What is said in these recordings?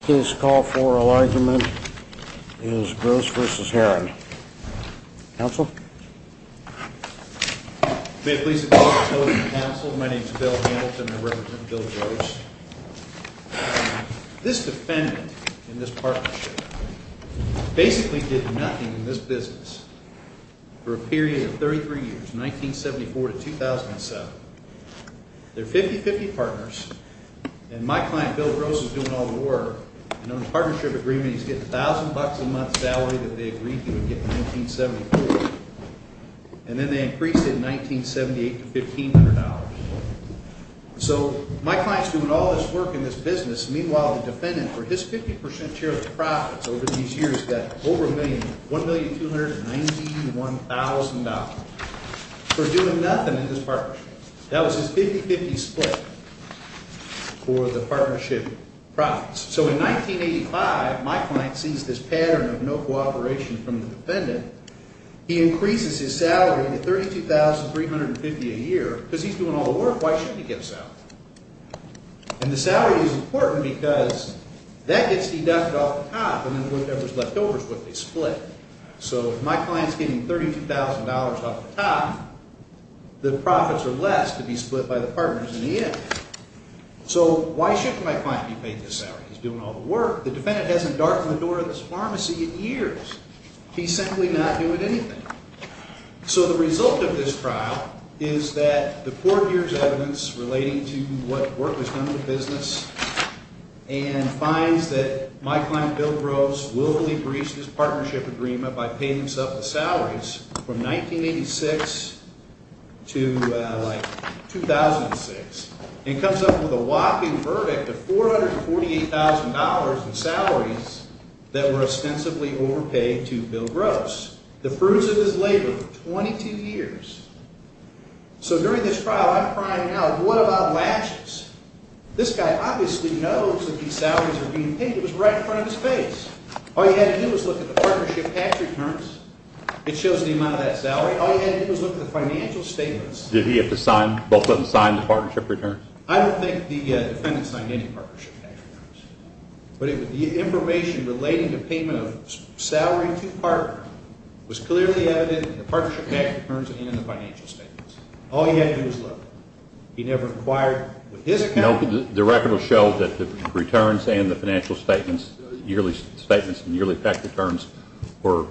His call for alignment is Gross v. Herren. Counsel? May it please the Court of Appeals and Counsel, my name is Bill Hamilton and I represent Bill Gross. This defendant in this partnership basically did nothing in this business for a period of 33 years, 1974 to 2007. They're 50-50 partners and my client Bill Gross is doing all the work and on the partnership agreement he's getting $1,000 a month salary that they agreed he would get in 1974. And then they increased it in 1978 to $1,500. So my client's doing all this work in this business, meanwhile the defendant for his 50% share of the profits over these years got over $1,291,000. For doing nothing in this partnership. That was his 50-50 split for the partnership profits. So in 1985 my client sees this pattern of no cooperation from the defendant. He increases his salary to $32,350 a year because he's doing all the work, why shouldn't he get a salary? And the salary is important because that gets deducted off the top and then whatever's left over is what they split. So if my client's getting $32,000 off the top, the profits are less to be split by the partners in the end. So why shouldn't my client be paid this salary? He's doing all the work. The defendant hasn't darkened the door of this pharmacy in years. He's simply not doing anything. So the result of this trial is that the court hears evidence relating to what work was done in the business. And finds that my client, Bill Gross, willfully breached his partnership agreement by paying himself the salaries from 1986 to 2006. And comes up with a whopping verdict of $448,000 in salaries that were ostensibly overpaid to Bill Gross. The fruits of his labor for 22 years. So during this trial, I'm crying now, what about latches? This guy obviously knows that these salaries are being paid. It was right in front of his face. All he had to do was look at the partnership tax returns. It shows the amount of that salary. All he had to do was look at the financial statements. Did he have to sign, both of them sign, the partnership returns? I don't think the defendant signed any partnership tax returns. But the information relating to payment of salary to partner was clearly evident in the partnership tax returns and in the financial statements. All he had to do was look. He never inquired with his account. The record will show that the returns and the financial statements, yearly statements and yearly tax returns, were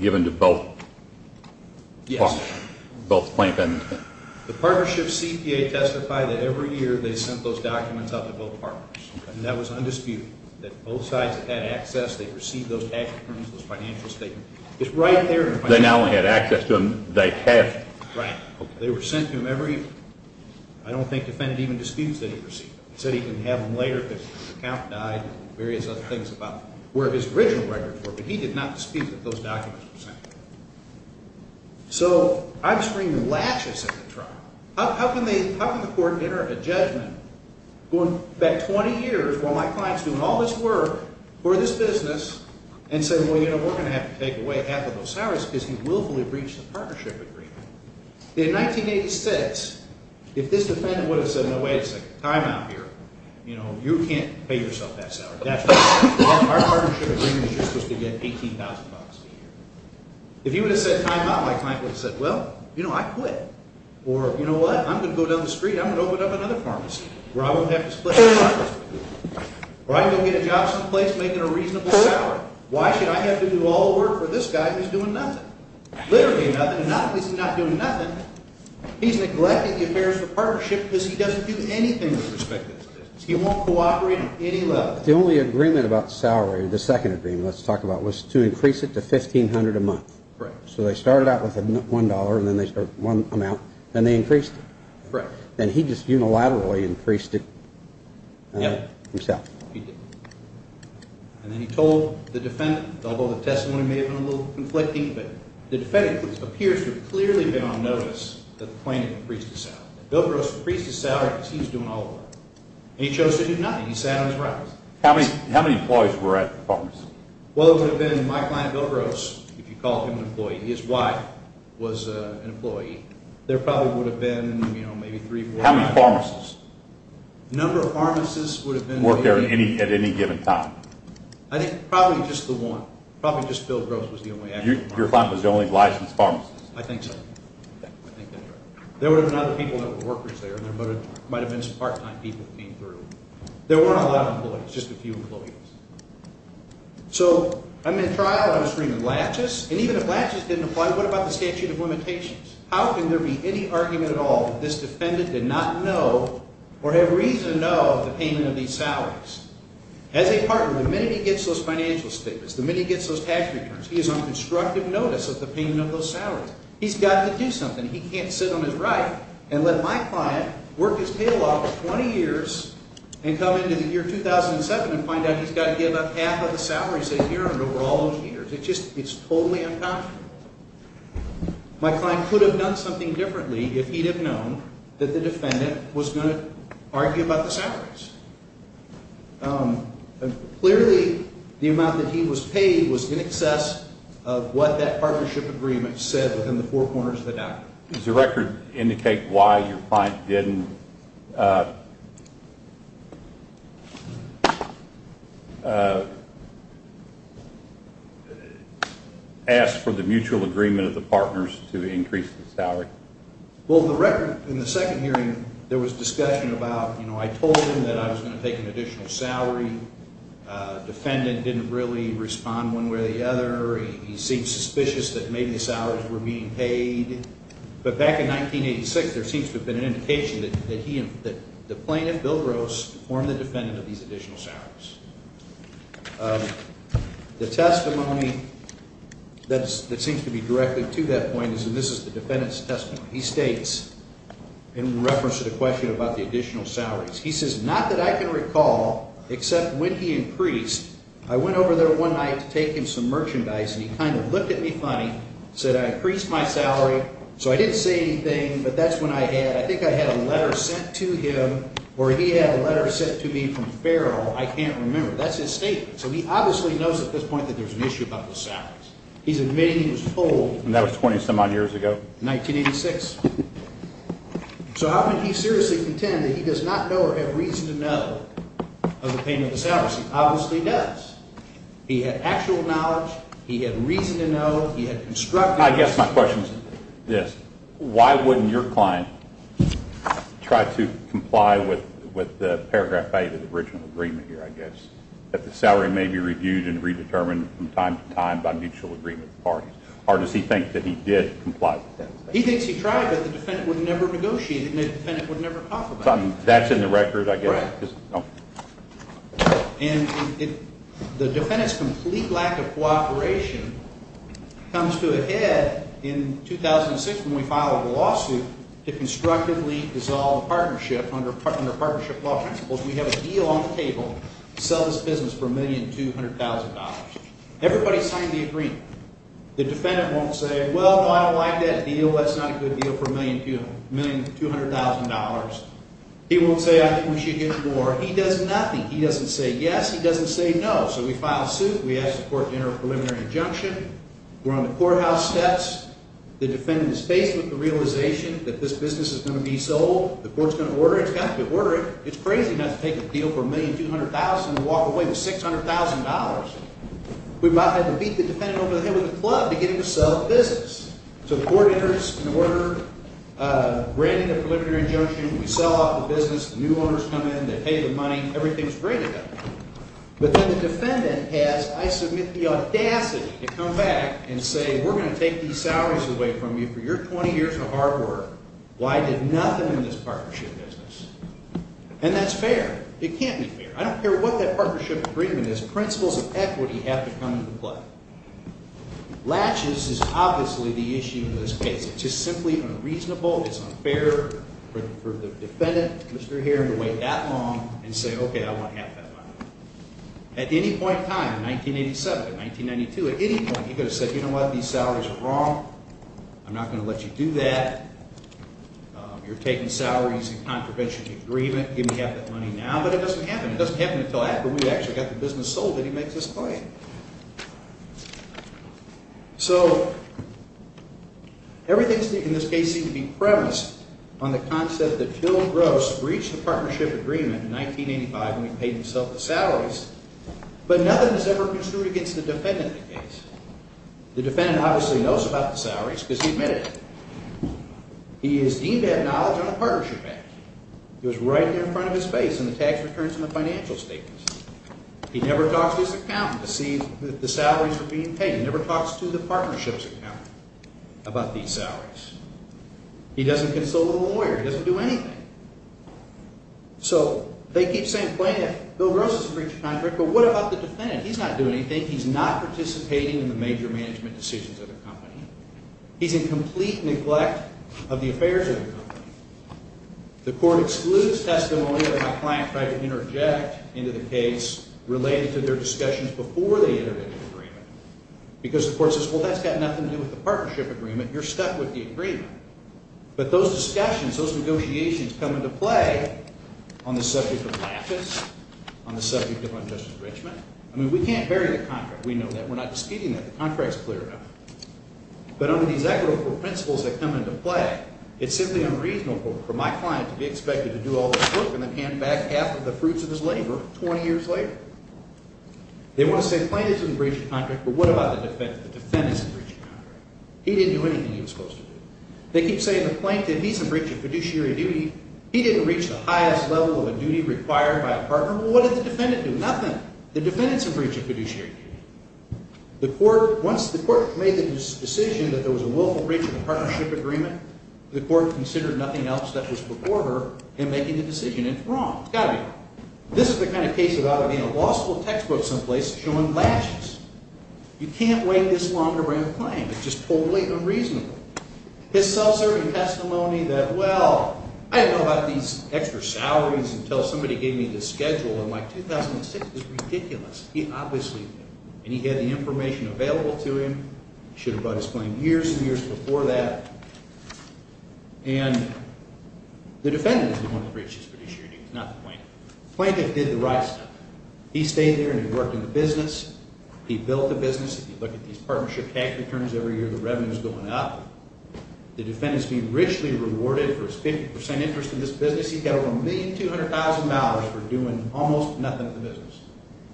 given to both? Yes. Both the plaintiff and the defendant. The partnership CPA testified that every year they sent those documents out to both partners. And that was undisputed, that both sides had access. They received those tax returns, those financial statements. It's right there in the financial statements. They not only had access to them, they have. Right. They were sent to him every year. I don't think the defendant even disputes that he received them. He said he can have them later if his account died and various other things about where his original records were. But he did not dispute that those documents were sent. So I'm screaming latches at the trial. How can the court enter a judgment going back 20 years, while my client's doing all this work for this business, and say, well, you know, we're going to have to take away half of those salaries because he willfully breached the partnership agreement? In 1986, if this defendant would have said, no, wait a second, time out here. You know, you can't pay yourself that salary. Our partnership agreement is you're supposed to get $18,000 a year. If he would have said time out, my client would have said, well, you know, I quit. Or, you know what, I'm going to go down the street. I'm going to open up another pharmacy where I won't have to split the profits. Or I can go get a job someplace making a reasonable salary. Why should I have to do all the work for this guy who's doing nothing? Literally nothing. And not only is he not doing nothing, he's neglecting the affairs of the partnership because he doesn't do anything with respect to this business. He won't cooperate on any level. The only agreement about salary, the second agreement let's talk about, was to increase it to $1,500 a month. Right. So they started out with $1 and then they increased it. Right. And he just unilaterally increased it himself. He did. And then he told the defendant, although the testimony may have been a little conflicting, but the defendant appears to have clearly been on notice that the plaintiff increased his salary, that Bill Gross increased his salary because he was doing all the work. And he chose to do nothing. He sat on his rocks. How many employees were at the pharmacy? Well, it would have been my client Bill Gross, if you call him an employee. His wife was an employee. There probably would have been, you know, maybe three or four. How many pharmacists? The number of pharmacists would have been. Worked there at any given time? I think probably just the one. Probably just Bill Gross was the only actual pharmacist. Your client was the only licensed pharmacist? I think so. I think that's right. There would have been other people that were workers there. There might have been some part-time people that came through. There weren't a lot of employees, just a few employees. So, I'm in trial and I'm screaming, latches? And even if latches didn't apply, what about the statute of limitations? How can there be any argument at all that this defendant did not know or have reason to know of the payment of these salaries? As a partner, the minute he gets those financial statements, the minute he gets those cash returns, he is on constructive notice of the payment of those salaries. He's got to do something. He can't sit on his right and let my client work his tail off for 20 years and come into the year 2007 and find out he's got to give up half of the salaries that he earned over all those years. It's totally unconscionable. My client could have done something differently if he'd have known that the defendant was going to argue about the salaries. Clearly, the amount that he was paid was in excess of what that partnership agreement said within the four corners of the document. Does the record indicate why your client didn't ask for the mutual agreement of the partners to increase the salary? Well, the record in the second hearing, there was discussion about, you know, I told him that I was going to take an additional salary. The defendant didn't really respond one way or the other. He seemed suspicious that maybe the salaries were being paid. But back in 1986, there seems to have been an indication that the plaintiff, Bill Gross, informed the defendant of these additional salaries. The testimony that seems to be directed to that point is that this is the defendant's testimony. He states, in reference to the question about the additional salaries, he says, and he kind of looked at me funny, said I increased my salary. So I didn't say anything, but that's when I had, I think I had a letter sent to him or he had a letter sent to me from Farrell. I can't remember. That's his statement. So he obviously knows at this point that there's an issue about the salaries. He's admitting he was told. And that was 20-some-odd years ago? 1986. So how can he seriously contend that he does not know or have reason to know of the payment of the salaries? He obviously does. He had actual knowledge. He had reason to know. He had constructive reason to know. I guess my question is this. Why wouldn't your client try to comply with the paragraph A of the original agreement here, I guess, that the salary may be reviewed and redetermined from time to time by mutual agreement parties? Or does he think that he did comply with that? He thinks he tried, but the defendant would never negotiate it, and the defendant would never talk about it. That's in the record, I guess. Right. And the defendant's complete lack of cooperation comes to a head in 2006 when we filed a lawsuit to constructively dissolve a partnership under partnership law principles. We have a deal on the table to sell this business for $1,200,000. Everybody signed the agreement. The defendant won't say, well, no, I don't like that deal. That's not a good deal for $1,200,000. He won't say, I think we should get more. He does nothing. He doesn't say yes. He doesn't say no. So we file a suit. We ask the court to enter a preliminary injunction. We're on the courthouse steps. The defendant is faced with the realization that this business is going to be sold. The court's going to order it. It's got to be ordered. It's crazy not to take a deal for $1,200,000 and walk away with $600,000. We might have to beat the defendant over the head with a club to get him to sell the business. So the court enters an order granting a preliminary injunction. We sell off the business. The new owners come in. They pay the money. Everything's great again. But then the defendant has, I submit, the audacity to come back and say, we're going to take these salaries away from you for your 20 years of hard work. Why I did nothing in this partnership business. And that's fair. It can't be fair. I don't care what that partnership agreement is. Principles of equity have to come into play. Latches is obviously the issue in this case. It's just simply unreasonable. It's unfair for the defendant, Mr. Herron, to wait that long and say, okay, I want half that money. At any point in time, in 1987, in 1992, at any point, he could have said, you know what? These salaries are wrong. I'm not going to let you do that. You're taking salaries in contravention of the agreement. Give me half that money now. But it doesn't happen. It doesn't happen until after we've actually got the business sold. So everything in this case seems to be premised on the concept that Phil Gross breached the partnership agreement in 1985 when he paid himself the salaries, but nothing is ever construed against the defendant in the case. The defendant obviously knows about the salaries because he admitted it. He is deemed to have knowledge on the partnership back. It was right there in front of his face in the tax returns and the financial statements. He never talks to his accountant to see if the salaries were being paid. He never talks to the partnership's accountant about these salaries. He doesn't consult with a lawyer. He doesn't do anything. So they keep saying, well, yeah, Phil Gross has breached the contract, but what about the defendant? He's not doing anything. He's not participating in the major management decisions of the company. He's in complete neglect of the affairs of the company. The court excludes testimony of a client trying to interject into the case related to their discussions before they enter into an agreement because the court says, well, that's got nothing to do with the partnership agreement. You're stuck with the agreement. But those discussions, those negotiations come into play on the subject of laughing, on the subject of unjust enrichment. I mean, we can't bury the contract. We know that. We're not disputing that. The contract is clear enough. But under these equitable principles that come into play, it's simply unreasonable for my client to be expected to do all this work and then hand back half of the fruits of his labor 20 years later. They want to say the plaintiff didn't breach the contract, but what about the defendant? The defendant didn't breach the contract. He didn't do anything he was supposed to do. They keep saying the plaintiff, he's a breach of fiduciary duty. He didn't reach the highest level of a duty required by a partner. Well, what did the defendant do? Nothing. The defendant's a breach of fiduciary duty. The court, once the court made the decision that there was a willful breach of the partnership agreement, the court considered nothing else that was before her in making the decision it's wrong. It's got to be wrong. This is the kind of case about it being a law school textbook someplace showing latches. You can't wait this long to bring a claim. It's just totally unreasonable. His self-serving testimony that, well, I didn't know about these extra salaries until somebody gave me the schedule in my 2006 is ridiculous. He obviously didn't, and he had the information available to him. He should have brought his claim years and years before that. And the defendant is the one who breaches fiduciary duties, not the plaintiff. The plaintiff did the right stuff. He stayed there and he worked in the business. He built the business. If you look at these partnership tax returns every year, the revenue is going up. The defendant is being richly rewarded for his 50 percent interest in this business.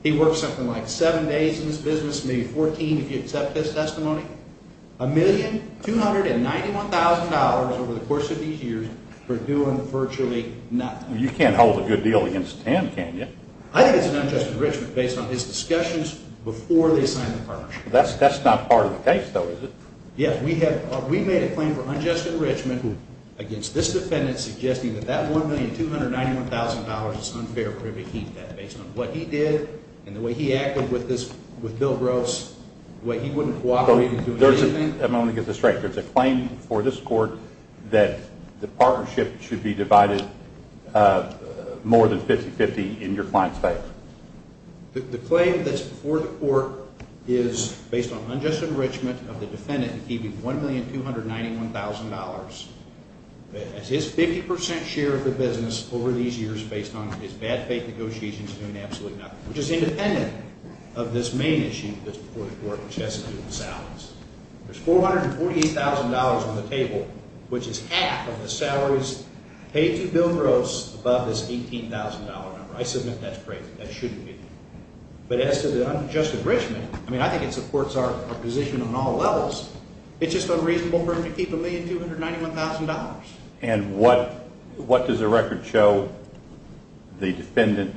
He works something like seven days in this business, maybe 14 if you accept his testimony. $1,291,000 over the course of these years for doing virtually nothing. You can't hold a good deal against him, can you? I think it's an unjust enrichment based on his discussions before they signed the partnership. That's not part of the case, though, is it? Yes. We made a claim for unjust enrichment against this defendant suggesting that that $1,291,000 is unfair. Based on what he did and the way he acted with Bill Gross, the way he wouldn't cooperate. Let me get this straight. There's a claim before this court that the partnership should be divided more than 50-50 in your client's favor. The claim that's before the court is based on unjust enrichment of the defendant in keeping $1,291,000. That's his 50 percent share of the business over these years based on his bad faith negotiations doing absolutely nothing. Which is independent of this main issue that's before the court, which has to do with salaries. There's $448,000 on the table, which is half of the salaries paid to Bill Gross above this $18,000 number. I submit that's crazy. That shouldn't be. But as to the unjust enrichment, I mean, I think it supports our position on all levels. It's just unreasonable for him to keep $1,291,000. And what does the record show the defendant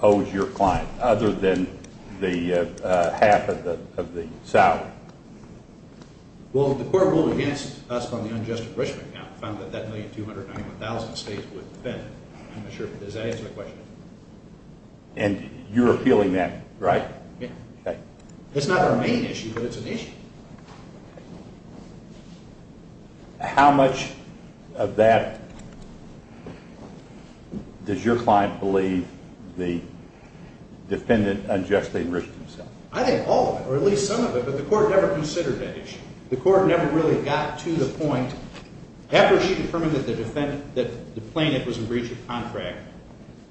owes your client other than half of the salary? Well, the court ruled against us on the unjust enrichment. It found that that $1,291,000 stays with the defendant. I'm not sure if that answers the question. And you're appealing that, right? Yeah. Okay. It's not our main issue, but it's an issue. How much of that does your client believe the defendant unjustly enriched himself? I think all of it or at least some of it, but the court never considered that issue. The court never really got to the point. After she determined that the plaintiff was in breach of contract,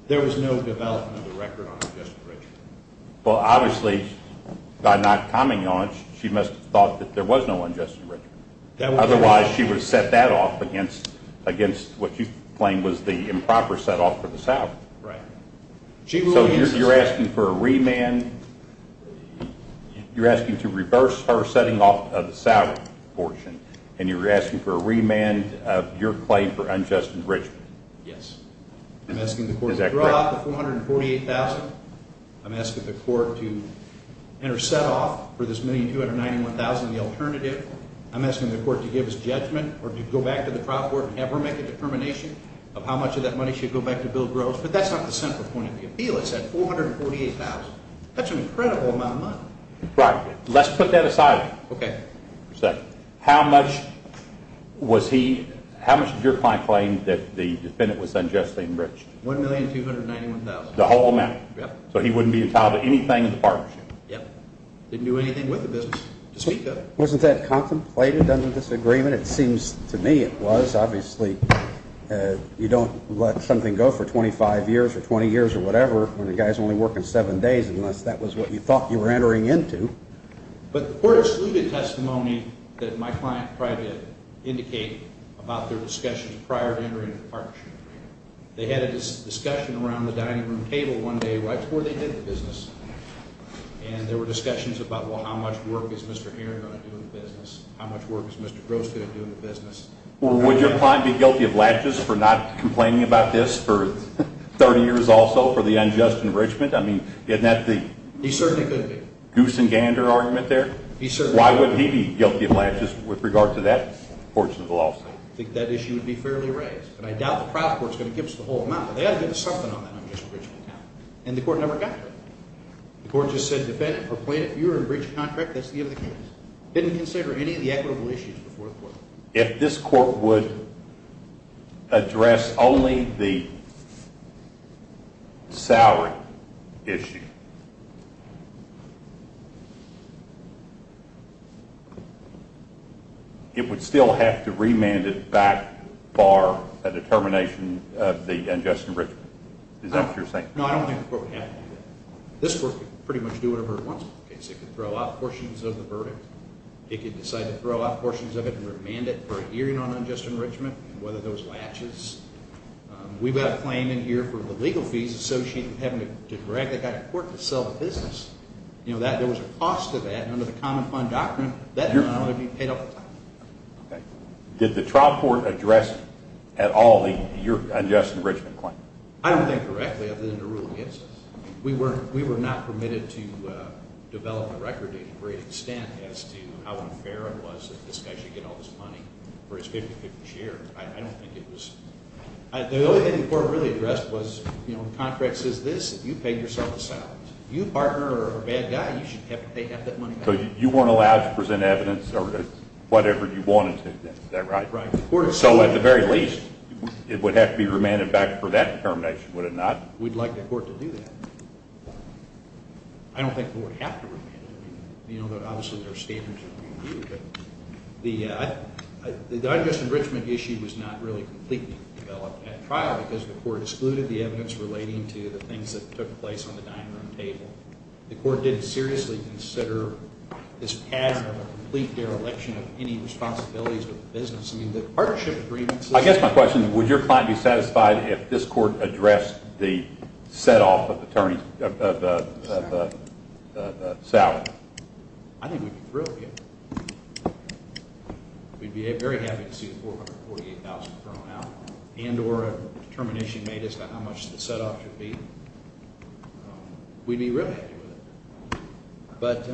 there was no development of the record on unjust enrichment. Well, obviously, by not commenting on it, she must have thought that there was no unjust enrichment. Otherwise, she would have set that off against what you claim was the improper set off for the salary. Right. So you're asking for a remand. You're asking to reverse her setting off of the salary portion, and you're asking for a remand of your claim for unjust enrichment. Yes. I'm asking the court to draw out the $448,000. I'm asking the court to enter set off for this $1,291,000 in the alternative. I'm asking the court to give us judgment or to go back to the trial court and have her make a determination of how much of that money should go back to Bill Groves. But that's not the central point of the appeal. It's that $448,000. That's an incredible amount of money. Right. Let's put that aside. Okay. How much of your client claimed that the defendant was unjustly enriched? $1,291,000. The whole amount? Yes. So he wouldn't be entitled to anything in the partnership? Yes. Didn't do anything with the business, to speak of. Wasn't that contemplated under this agreement? It seems to me it was. Obviously, you don't let something go for 25 years or 20 years or whatever when the guy's only working seven days unless that was what you thought you were entering into. But the court excluded testimony that my client tried to indicate about their discussions prior to entering into the partnership. They had a discussion around the dining room table one day right before they did the business. And there were discussions about, well, how much work is Mr. Heron going to do in the business? How much work is Mr. Groves going to do in the business? Would your client be guilty of latches for not complaining about this for 30 years also for the unjust enrichment? I mean, isn't that the... He certainly could be. Goose and gander argument there? He certainly could be. Why wouldn't he be guilty of latches with regard to that portion of the lawsuit? I think that issue would be fairly raised. And I doubt the private court is going to give us the whole amount, but they ought to give us something on that unjust enrichment. And the court never got to it. The court just said, defendant, for plaintiff, you are in breach of contract. That's the end of the case. Didn't consider any of the equitable issues before the court. If this court would address only the salary issue, it would still have to remand it back for a determination of the unjust enrichment? Is that what you're saying? No, I don't think the court would have to do that. This court could pretty much do whatever it wants with the case. It could throw out portions of the verdict. It could decide to throw out portions of it and remand it for a hearing on unjust enrichment and whether those latches... We've got a claim in here for the legal fees associated with having to drag the guy to court to sell the business. You know, there was a cost to that. And under the common fund doctrine, that amount would be paid off. Did the trial court address at all your unjust enrichment claim? I don't think correctly, other than to rule against us. We were not permitted to develop a record to a great extent as to how unfair it was that this guy should get all this money for his 50-50 share. I don't think it was... The only thing the court really addressed was, you know, the contract says this, you paid yourself a salary. If you partner with a bad guy, you should pay half that money back. So you weren't allowed to present evidence or whatever you wanted to, is that right? Right. So at the very least, it would have to be remanded back for that determination, would it not? We'd like the court to do that. I don't think the court would have to remand it. You know, obviously there are standards that we view. But the unjust enrichment issue was not really completely developed at trial because the court excluded the evidence relating to the things that took place on the dining room table. The court didn't seriously consider this pattern of a complete dereliction of any responsibilities with the business. I mean, the partnership agreements... I guess my question is, would your client be satisfied if this court addressed the set-off of the salary? I think we'd be thrilled, yeah. We'd be very happy to see the $448,000 thrown out and or a determination made as to how much the set-off should be. We'd be really happy with it. But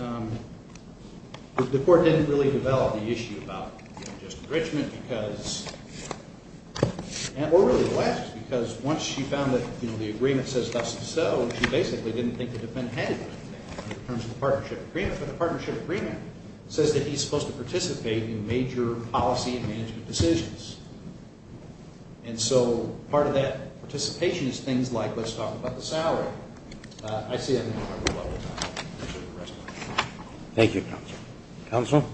the court didn't really develop the issue about unjust enrichment because... or really the last, because once she found that the agreement says thus and so, she basically didn't think it had been handed to her in terms of the partnership agreement. But the partnership agreement says that he's supposed to participate in major policy and management decisions. And so part of that participation is things like, let's talk about the salary. I see I didn't have a lot of time. Thank you, Counsel. Counsel?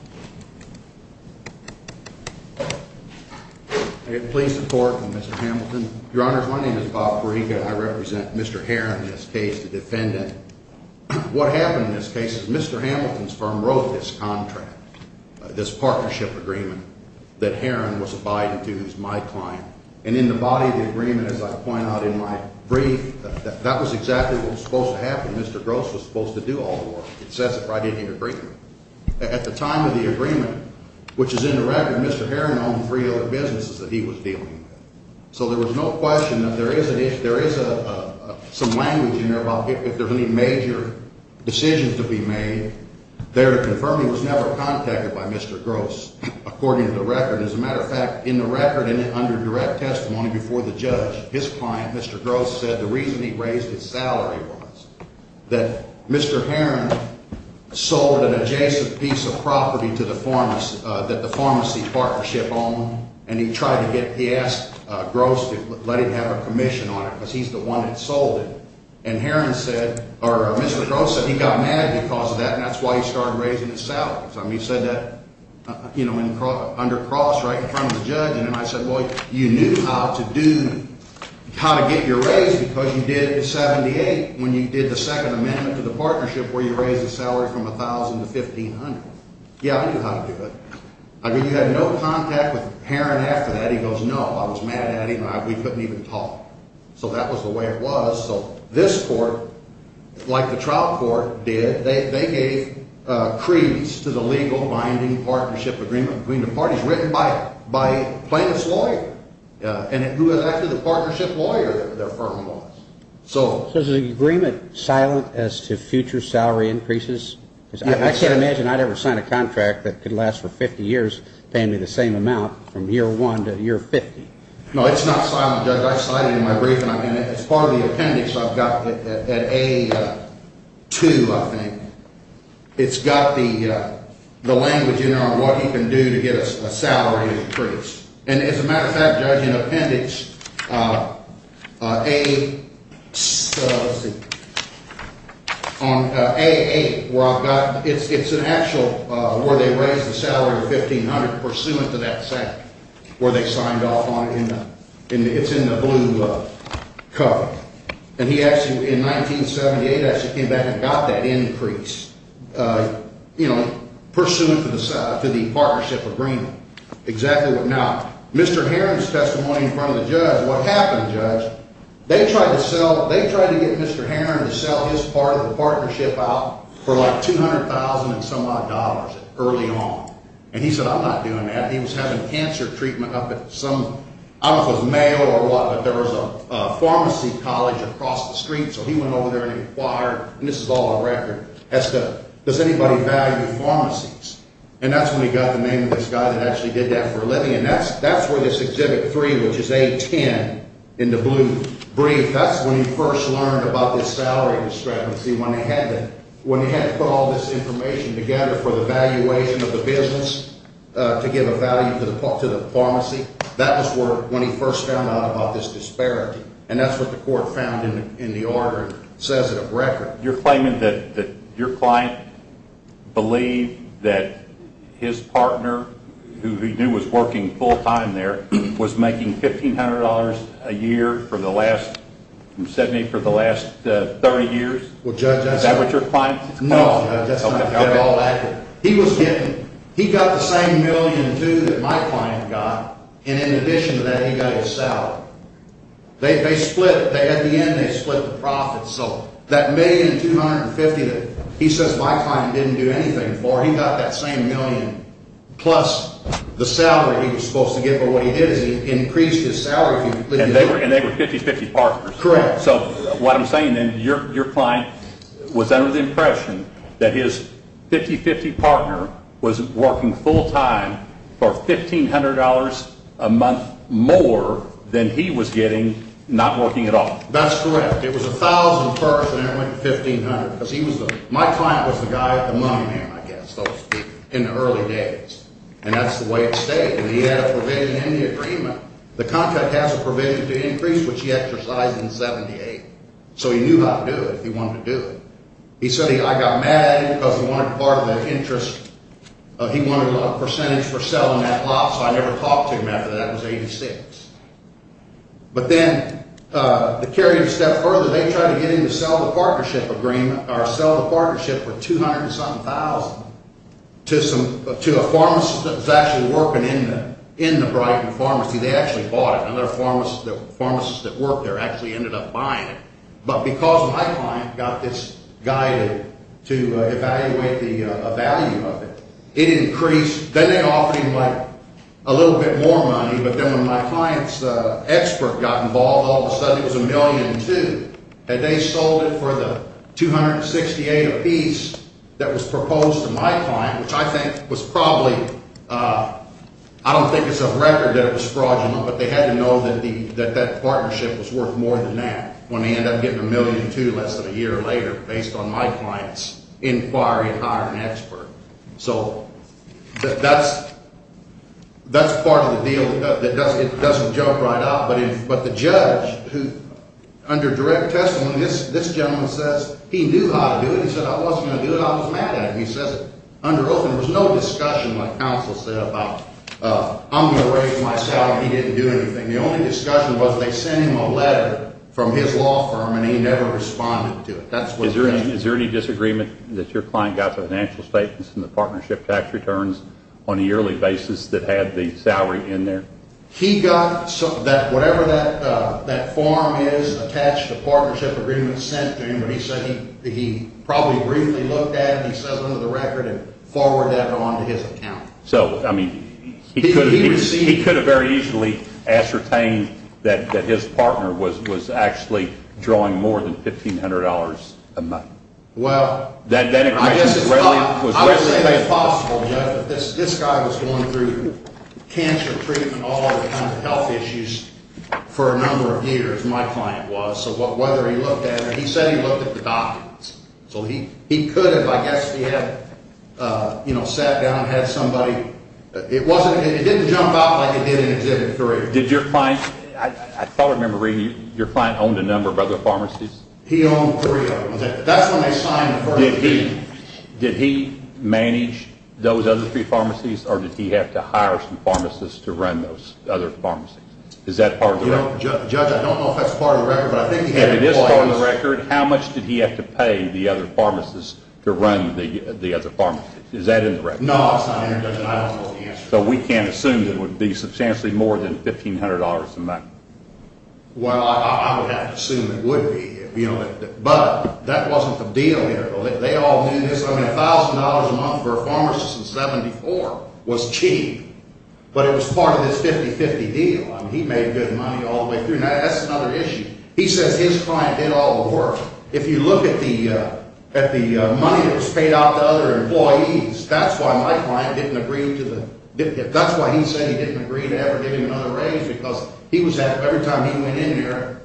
Please support Mr. Hamilton. Your Honors, my name is Bob Fariga. I represent Mr. Heron in this case, the defendant. What happened in this case is Mr. Hamilton's firm wrote this contract, this partnership agreement, that Heron was abiding to as my client. And in the body of the agreement, as I point out in my brief, that was exactly what was supposed to happen. Mr. Gross was supposed to do all the work. It says it right in the agreement. At the time of the agreement, which is in the record, Mr. Heron owned three other businesses that he was dealing with. So there was no question that there is some language in there about if there's any major decisions to be made. There to confirm he was never contacted by Mr. Gross, according to the record. As a matter of fact, in the record and under direct testimony before the judge, his client, Mr. Gross, said the reason he raised his salary was that Mr. Heron sold an adjacent piece of property to the pharmacy, that the pharmacy partnership owned, and he tried to get – he asked Gross to let him have a commission on it because he's the one that sold it. And Heron said – or Mr. Gross said he got mad because of that, and that's why he started raising his salary. He said that, you know, under Cross, right in front of the judge. And I said, well, you knew how to do – how to get your raise because you did it in 78 when you did the Second Amendment to the partnership where you raise the salary from $1,000 to $1,500. Yeah, I knew how to do it. I mean, you had no contact with Heron after that. He goes, no, I was mad at him. We couldn't even talk. So that was the way it was. So this court, like the trial court did, they gave creeds to the legal binding partnership agreement between the parties written by Plaintiff's lawyer, and it was actually the partnership lawyer that their firm was. So is the agreement silent as to future salary increases? Because I can't imagine I'd ever sign a contract that could last for 50 years paying me the same amount from year one to year 50. No, it's not silent, Judge. I cite it in my brief, and it's part of the appendix I've got at A2, I think. It's got the language in there on what he can do to get a salary increase. And as a matter of fact, Judge, in appendix A – let's see – on A8, where I've got – it's an actual – where they raised the salary of $1,500 pursuant to that fact, where they signed off on it. It's in the blue cover. And he actually, in 1978, actually came back and got that increase, you know, pursuant to the partnership agreement. Exactly what – now, Mr. Heron's testimony in front of the judge, what happened, Judge, they tried to sell – they tried to get Mr. Heron to sell his part of the partnership out for like $200,000 and some odd early on. And he said, I'm not doing that. He was having cancer treatment up at some – I don't know if it was Mayo or what, but there was a pharmacy college across the street, so he went over there and inquired – and this is all on record – does anybody value pharmacies? And that's when he got the name of this guy that actually did that for a living. And that's where this Exhibit 3, which is A10 in the blue brief, that's when he first learned about this salary discrepancy, when they had to put all this information together for the valuation of the business to give a value to the pharmacy. That was where – when he first found out about this disparity. And that's what the court found in the order and says it on record. You're claiming that your client believed that his partner, who he knew was working full-time there, was making $1,500 a year for the last – from 70 for the last 30 years? Well, Judge – Is that what your client – No, Judge, that's not at all accurate. He was getting – he got the same million, too, that my client got, and in addition to that he got his salary. They split – at the end they split the profits. So that $1,250,000 that he says my client didn't do anything for, he got that same million, plus the salary he was supposed to get for what he did as he increased his salary. And they were 50-50 partners. Correct. So what I'm saying then, your client was under the impression that his 50-50 partner was working full-time for $1,500 a month more than he was getting not working at all. That's correct. It was 1,000 first, and then it went to 1,500 because he was the – my client was the guy at the money man, I guess, in the early days, and that's the way it stayed. And he had a provision in the agreement. The contract has a provision to increase, which he exercised in 78. So he knew how to do it if he wanted to do it. He said he – I got mad at him because he wanted part of the interest. He wanted a percentage for selling that lot, so I never talked to him after that. That was 86. But then the carrier stepped further. They tried to get him to sell the partnership agreement – or sell the partnership for 200-something thousand to some – to a pharmacist that was actually working in the Brighton pharmacy. They actually bought it. Another pharmacist that worked there actually ended up buying it. But because my client got this guy to evaluate the value of it, it increased. Then they offered him, like, a little bit more money, but then when my client's expert got involved, all of a sudden it was 1,000,002. Had they sold it for the 268 apiece that was proposed to my client, which I think was probably – I don't think it's a record that it was fraudulent, but they had to know that that partnership was worth more than that when they ended up getting 1,000,002 less than a year later based on my client's inquiry and hiring an expert. So that's part of the deal. It doesn't jump right out, but the judge, under direct testimony, this gentleman says he knew how to do it. He said, I wasn't going to do it. I was mad at him. There was no discussion, like counsel said, about I'm going to raise my salary. He didn't do anything. The only discussion was they sent him a letter from his law firm, and he never responded to it. Is there any disagreement that your client got the financial statements and the partnership tax returns on a yearly basis that had the salary in there? He got whatever that form is attached to the partnership agreement sent to him, and he said he probably briefly looked at it. He settled into the record and forwarded that on to his accountant. So, I mean, he could have very easily ascertained that his partner was actually drawing more than $1,500 a month. Well, I would say it's possible, Judge, that this guy was going through cancer treatment and all kinds of health issues for a number of years. My client was. So whether he looked at it, he said he looked at the documents. So he could have, I guess, he had sat down and had somebody. It didn't jump out like it did in Exhibit 3. Did your client, I thought I remember reading, your client owned a number of other pharmacies? He owned three of them. That's when they signed the first agreement. Did he manage those other three pharmacies, or did he have to hire some pharmacists to run those other pharmacies? Is that part of the record? Judge, I don't know if that's part of the record, but I think he had employees. If it is part of the record, how much did he have to pay the other pharmacists to run the other pharmacies? Is that in the record? No, it's not in there, Judge, and I don't know the answer. So we can't assume that it would be substantially more than $1,500 a month? Well, I would have to assume it would be. But that wasn't the deal here. They all knew this. I mean, $1,000 a month for a pharmacist in 74 was cheap, but it was part of this 50-50 deal. I mean, he made good money all the way through. Now, that's another issue. He says his client did all the work. If you look at the money that was paid out to other employees, that's why my client didn't agree to the – that's why he said he didn't agree to ever give him another raise because he was – every time he went in there,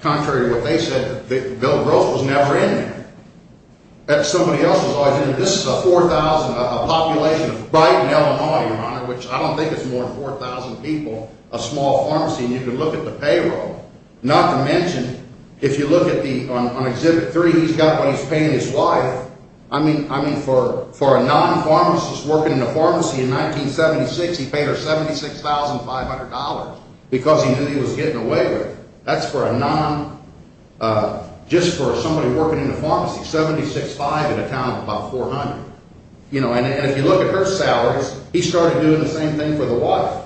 contrary to what they said, Bill Gross was never in there. Somebody else was always in there. This is a 4,000 – a population of Brighton, Illinois, Your Honor, which I don't think it's more than 4,000 people, a small pharmacy, and you can look at the payroll. Not to mention, if you look at the – on Exhibit 3, he's got what he's paying his wife. I mean, for a non-pharmacist working in a pharmacy in 1976, he paid her $76,500 because he knew he was getting away with it. That's for a non – just for somebody working in a pharmacy, 76.5 in a town of about 400. You know, and if you look at her salaries, he started doing the same thing for the wife.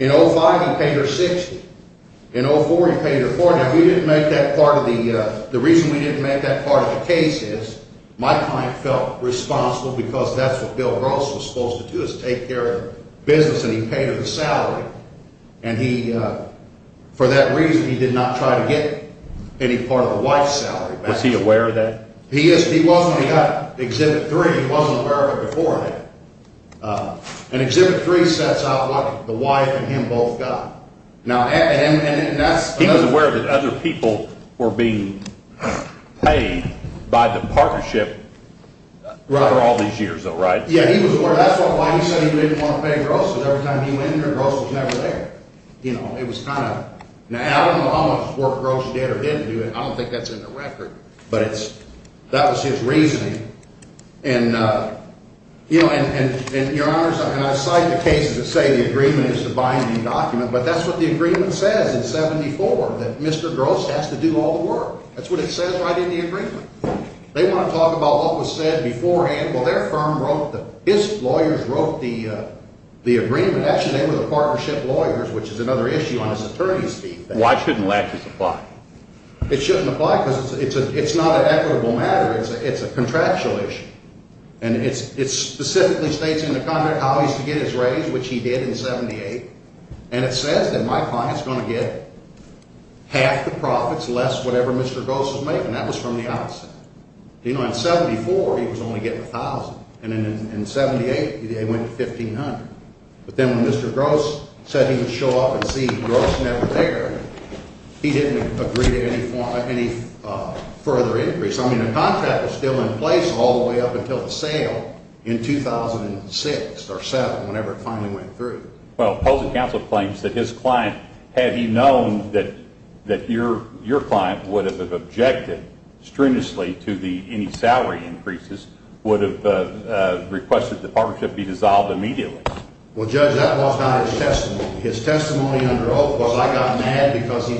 In 2005, he paid her 60. In 2004, he paid her 40. Now, we didn't make that part of the – the reason we didn't make that part of the case is my client felt responsible because that's what Bill Gross was supposed to do is take care of business, and he paid her the salary, and he – for that reason, he did not try to get any part of the wife's salary back. Was he aware of that? He is. He was when he got Exhibit 3. He wasn't aware of it before then. And Exhibit 3 sets out what the wife and him both got. Now, and that's – He was aware that other people were being paid by the partnership over all these years, though, right? Yeah, he was aware. That's why he said he didn't want to pay Gross because every time he went in there, Gross was never there. You know, it was kind of – now, I don't know how much work Gross did or didn't do. I don't think that's in the record, but it's – that was his reasoning. And, you know, and, Your Honors, and I cite the cases that say the agreement is the binding document, but that's what the agreement says in 74 that Mr. Gross has to do all the work. That's what it says right in the agreement. They want to talk about what was said beforehand. Well, their firm wrote the – his lawyers wrote the agreement. Actually, they were the partnership lawyers, which is another issue on his attorney's team. Why shouldn't latches apply? It shouldn't apply because it's not an equitable matter. It's a contractual issue, and it specifically states in the contract how he's to get his raise, which he did in 78, and it says that my client's going to get half the profits less whatever Mr. Gross is making. That was from the outset. You know, in 74, he was only getting $1,000, and in 78, they went to $1,500. But then when Mr. Gross said he would show up and see Gross never there, he didn't agree to any further increase. I mean, the contract was still in place all the way up until the sale in 2006 or 7, whenever it finally went through. Well, opposing counsel claims that his client, had he known that your client would have objected strenuously to any salary increases, would have requested the partnership be dissolved immediately. Well, Judge, that was not his testimony. His testimony under oath was I got mad because he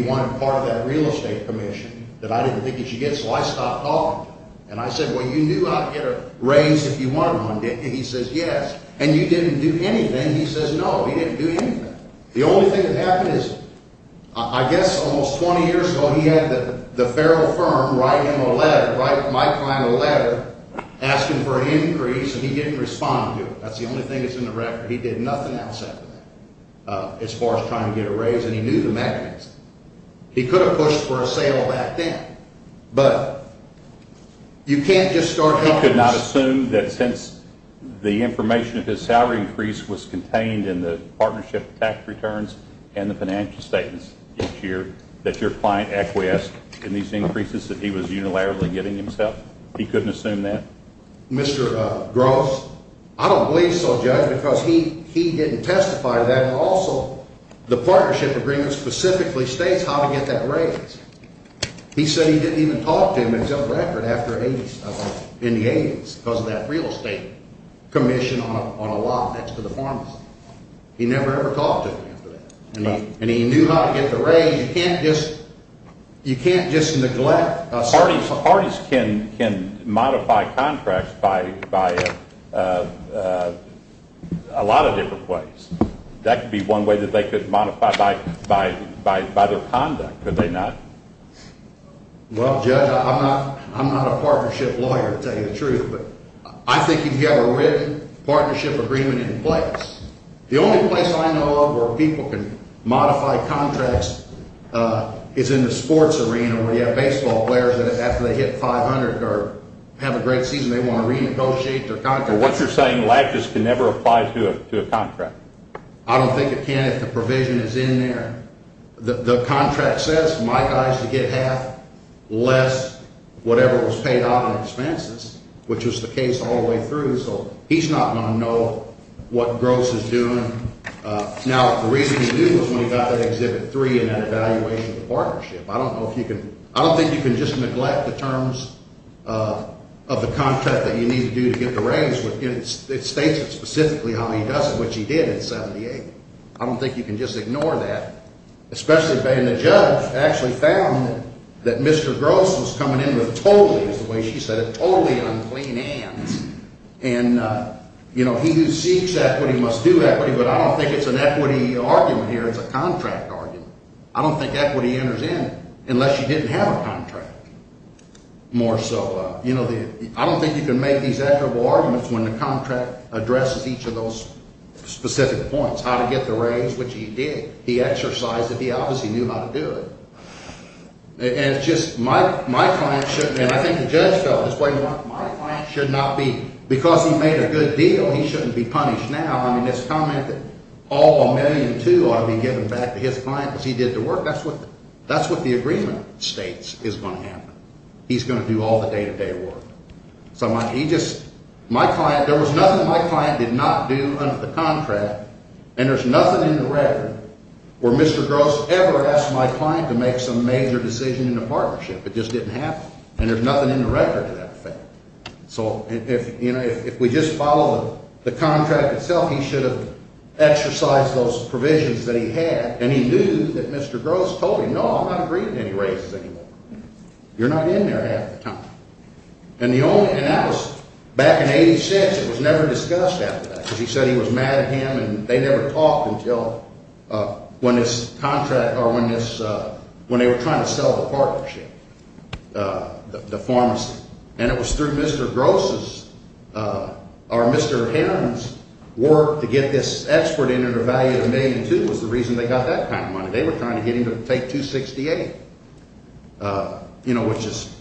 wanted part of that real estate commission that I didn't think he should get, so I stopped talking to him. And I said, well, you knew I'd get a raise if you wanted one, didn't you? And he says, yes. And you didn't do anything? He says, no, he didn't do anything. The only thing that happened is, I guess almost 20 years ago, he had the Ferrell firm write him a letter, write my client a letter, asking for an increase, and he didn't respond to it. That's the only thing that's in the record. He did nothing else after that as far as trying to get a raise, and he knew the mechanism. He could have pushed for a sale back then, but you can't just start helping. Mr. Gross, I don't believe so, Judge, because he didn't testify to that. And also, the partnership agreement specifically states how to get that raise. He said he didn't even talk to him until the record in the 80s because of that real estate commission on a lot next to the pharmacy. He never, ever talked to him after that. And he knew how to get the raise. You can't just neglect. Parties can modify contracts by a lot of different ways. That could be one way that they could modify by their conduct, could they not? Well, Judge, I'm not a partnership lawyer to tell you the truth, but I think you'd have a written partnership agreement in place. The only place I know of where people can modify contracts is in the sports arena where you have baseball players that after they hit 500 or have a great season, they want to renegotiate their contract. But what you're saying, lab just can never apply to a contract? I don't think it can if the provision is in there. The contract says my guy has to get half less whatever was paid out on expenses, which was the case all the way through, so he's not going to know what Gross is doing. Now, the reason he knew was when he got that Exhibit 3 and that evaluation of the partnership. I don't know if you can – I don't think you can just neglect the terms of the contract that you need to do to get the raise. It states it specifically how he does it, which he did in 78. I don't think you can just ignore that, especially when the judge actually found that Mr. Gross was coming in with totally, as the way she said it, totally unclean hands. And, you know, he who seeks equity must do equity, but I don't think it's an equity argument here. It's a contract argument. I don't think equity enters in unless you didn't have a contract, more so. I don't think you can make these admirable arguments when the contract addresses each of those specific points, how to get the raise, which he did. He exercised it. He obviously knew how to do it. And it's just my client shouldn't – and I think the judge felt this way more. My client should not be – because he made a good deal, he shouldn't be punished now. I mean, this comment that all a million, too, ought to be given back to his client because he did the work, that's what the agreement states is going to happen. He's going to do all the day-to-day work. So he just – my client – there was nothing my client did not do under the contract, and there's nothing in the record where Mr. Gross ever asked my client to make some major decision in a partnership. It just didn't happen, and there's nothing in the record to that effect. So, you know, if we just follow the contract itself, he should have exercised those provisions that he had, and he knew that Mr. Gross told him, no, I'm not agreeing to any raises anymore. You're not in there half the time. And the only – and that was back in 86. It was never discussed after that because he said he was mad at him, and they never talked until when this contract – or when this – when they were trying to sell the partnership, the pharmacy. And it was through Mr. Gross's – or Mr. Heron's work to get this expert in at a value of a million, too, was the reason they got that kind of money. They were trying to get him to take 268, you know, which is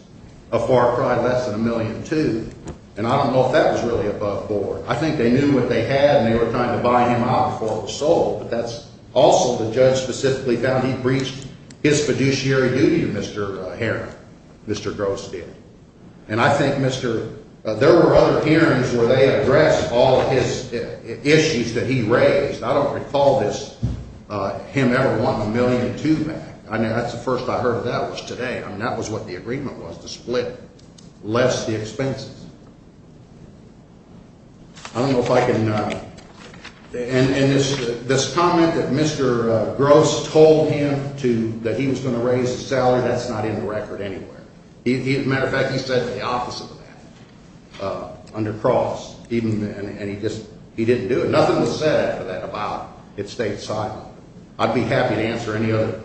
a far cry less than a million, too. And I don't know if that was really above board. I think they knew what they had, and they were trying to buy him out before it was sold. But that's also – the judge specifically found he breached his fiduciary duty, Mr. Heron, Mr. Gross did. And I think Mr. – there were other hearings where they addressed all of his issues that he raised. I don't recall this – him ever wanting a million, too back. I mean, that's the first I heard of that was today. I mean, that was what the agreement was, to split less the expenses. I don't know if I can – and this comment that Mr. Gross told him to – that he was going to raise the salary, that's not in the record anywhere. As a matter of fact, he said the opposite of that under Cross, even – and he just – he didn't do it. He didn't say that about – it stayed side. I'd be happy to answer any other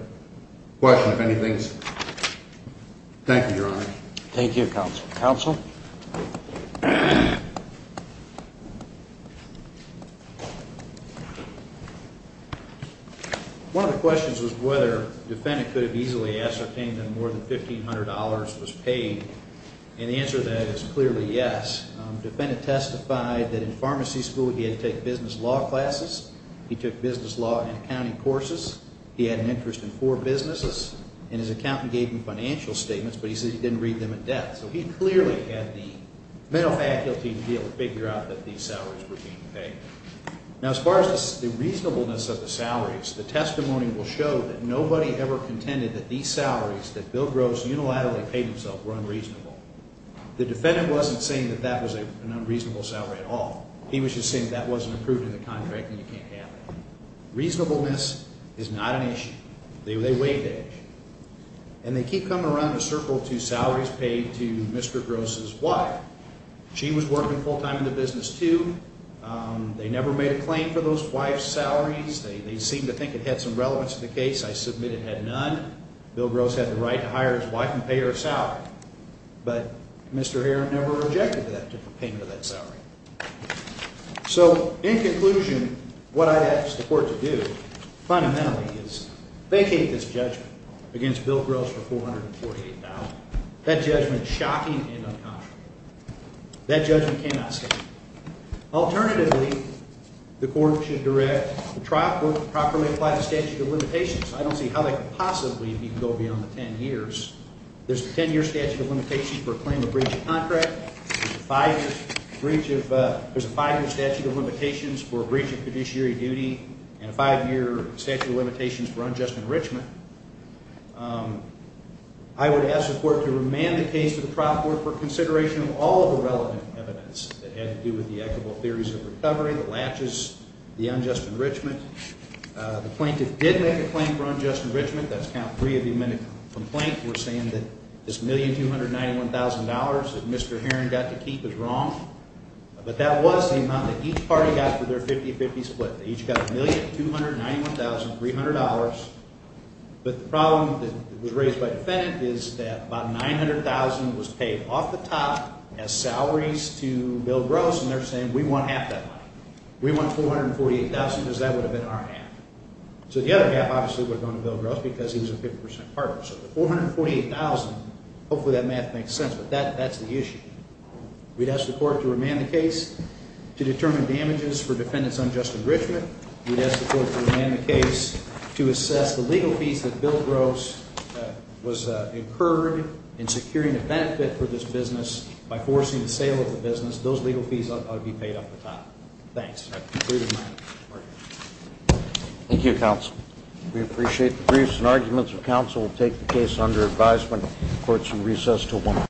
question if anything's – thank you, Your Honor. Thank you, Counsel. Counsel? One of the questions was whether the defendant could have easily ascertained that more than $1,500 was paid, and the answer to that is clearly yes. The defendant testified that in pharmacy school he had to take business law classes. He took business law and accounting courses. He had an interest in four businesses, and his accountant gave him financial statements, but he said he didn't read them in depth. So he clearly had the mental faculty to be able to figure out that these salaries were being paid. Now, as far as the reasonableness of the salaries, the testimony will show that nobody ever contended that these salaries that Bill Gross unilaterally paid himself were unreasonable. The defendant wasn't saying that that was an unreasonable salary at all. He was just saying that wasn't approved in the contract and you can't have that. Reasonableness is not an issue. They weighed that issue. And they keep coming around the circle to salaries paid to Mr. Gross' wife. She was working full-time in the business, too. They never made a claim for those wives' salaries. They seemed to think it had some relevance to the case. I submit it had none. Bill Gross had the right to hire his wife and pay her salary. But Mr. Herron never objected to that payment of that salary. So, in conclusion, what I'd ask the court to do fundamentally is vacate this judgment against Bill Gross for $448,000. That judgment is shocking and unconscionable. That judgment cannot stand. Alternatively, the court should try to properly apply the statute of limitations. I don't see how that could possibly go beyond the 10 years. There's a 10-year statute of limitations for a claim of breach of contract. There's a five-year statute of limitations for a breach of fiduciary duty and a five-year statute of limitations for unjust enrichment. I would ask the court to remand the case to the trial court for consideration of all of the relevant evidence that had to do with the equitable theories of recovery, the latches, the unjust enrichment. The plaintiff did make a claim for unjust enrichment. That's count three of the amended complaint. We're saying that this $1,291,000 that Mr. Herron got to keep is wrong. But that was the amount that each party got for their 50-50 split. They each got $1,291,300. But the problem that was raised by the defendant is that about $900,000 was paid off the top as salaries to Bill Gross, and they're saying we want half that money. We want $448,000 because that would have been our half. So the other half obviously would have gone to Bill Gross because he was a 50% partner. So the $448,000, hopefully that math makes sense, but that's the issue. We'd ask the court to remand the case to determine damages for defendants unjust enrichment. We'd ask the court to remand the case to assess the legal fees that Bill Gross was incurred in securing a benefit for this business by forcing the sale of the business. Those legal fees ought to be paid off the top. Thanks. Thank you, counsel. We appreciate the briefs and arguments. The counsel will take the case under advisement. The court shall recess until 1 p.m.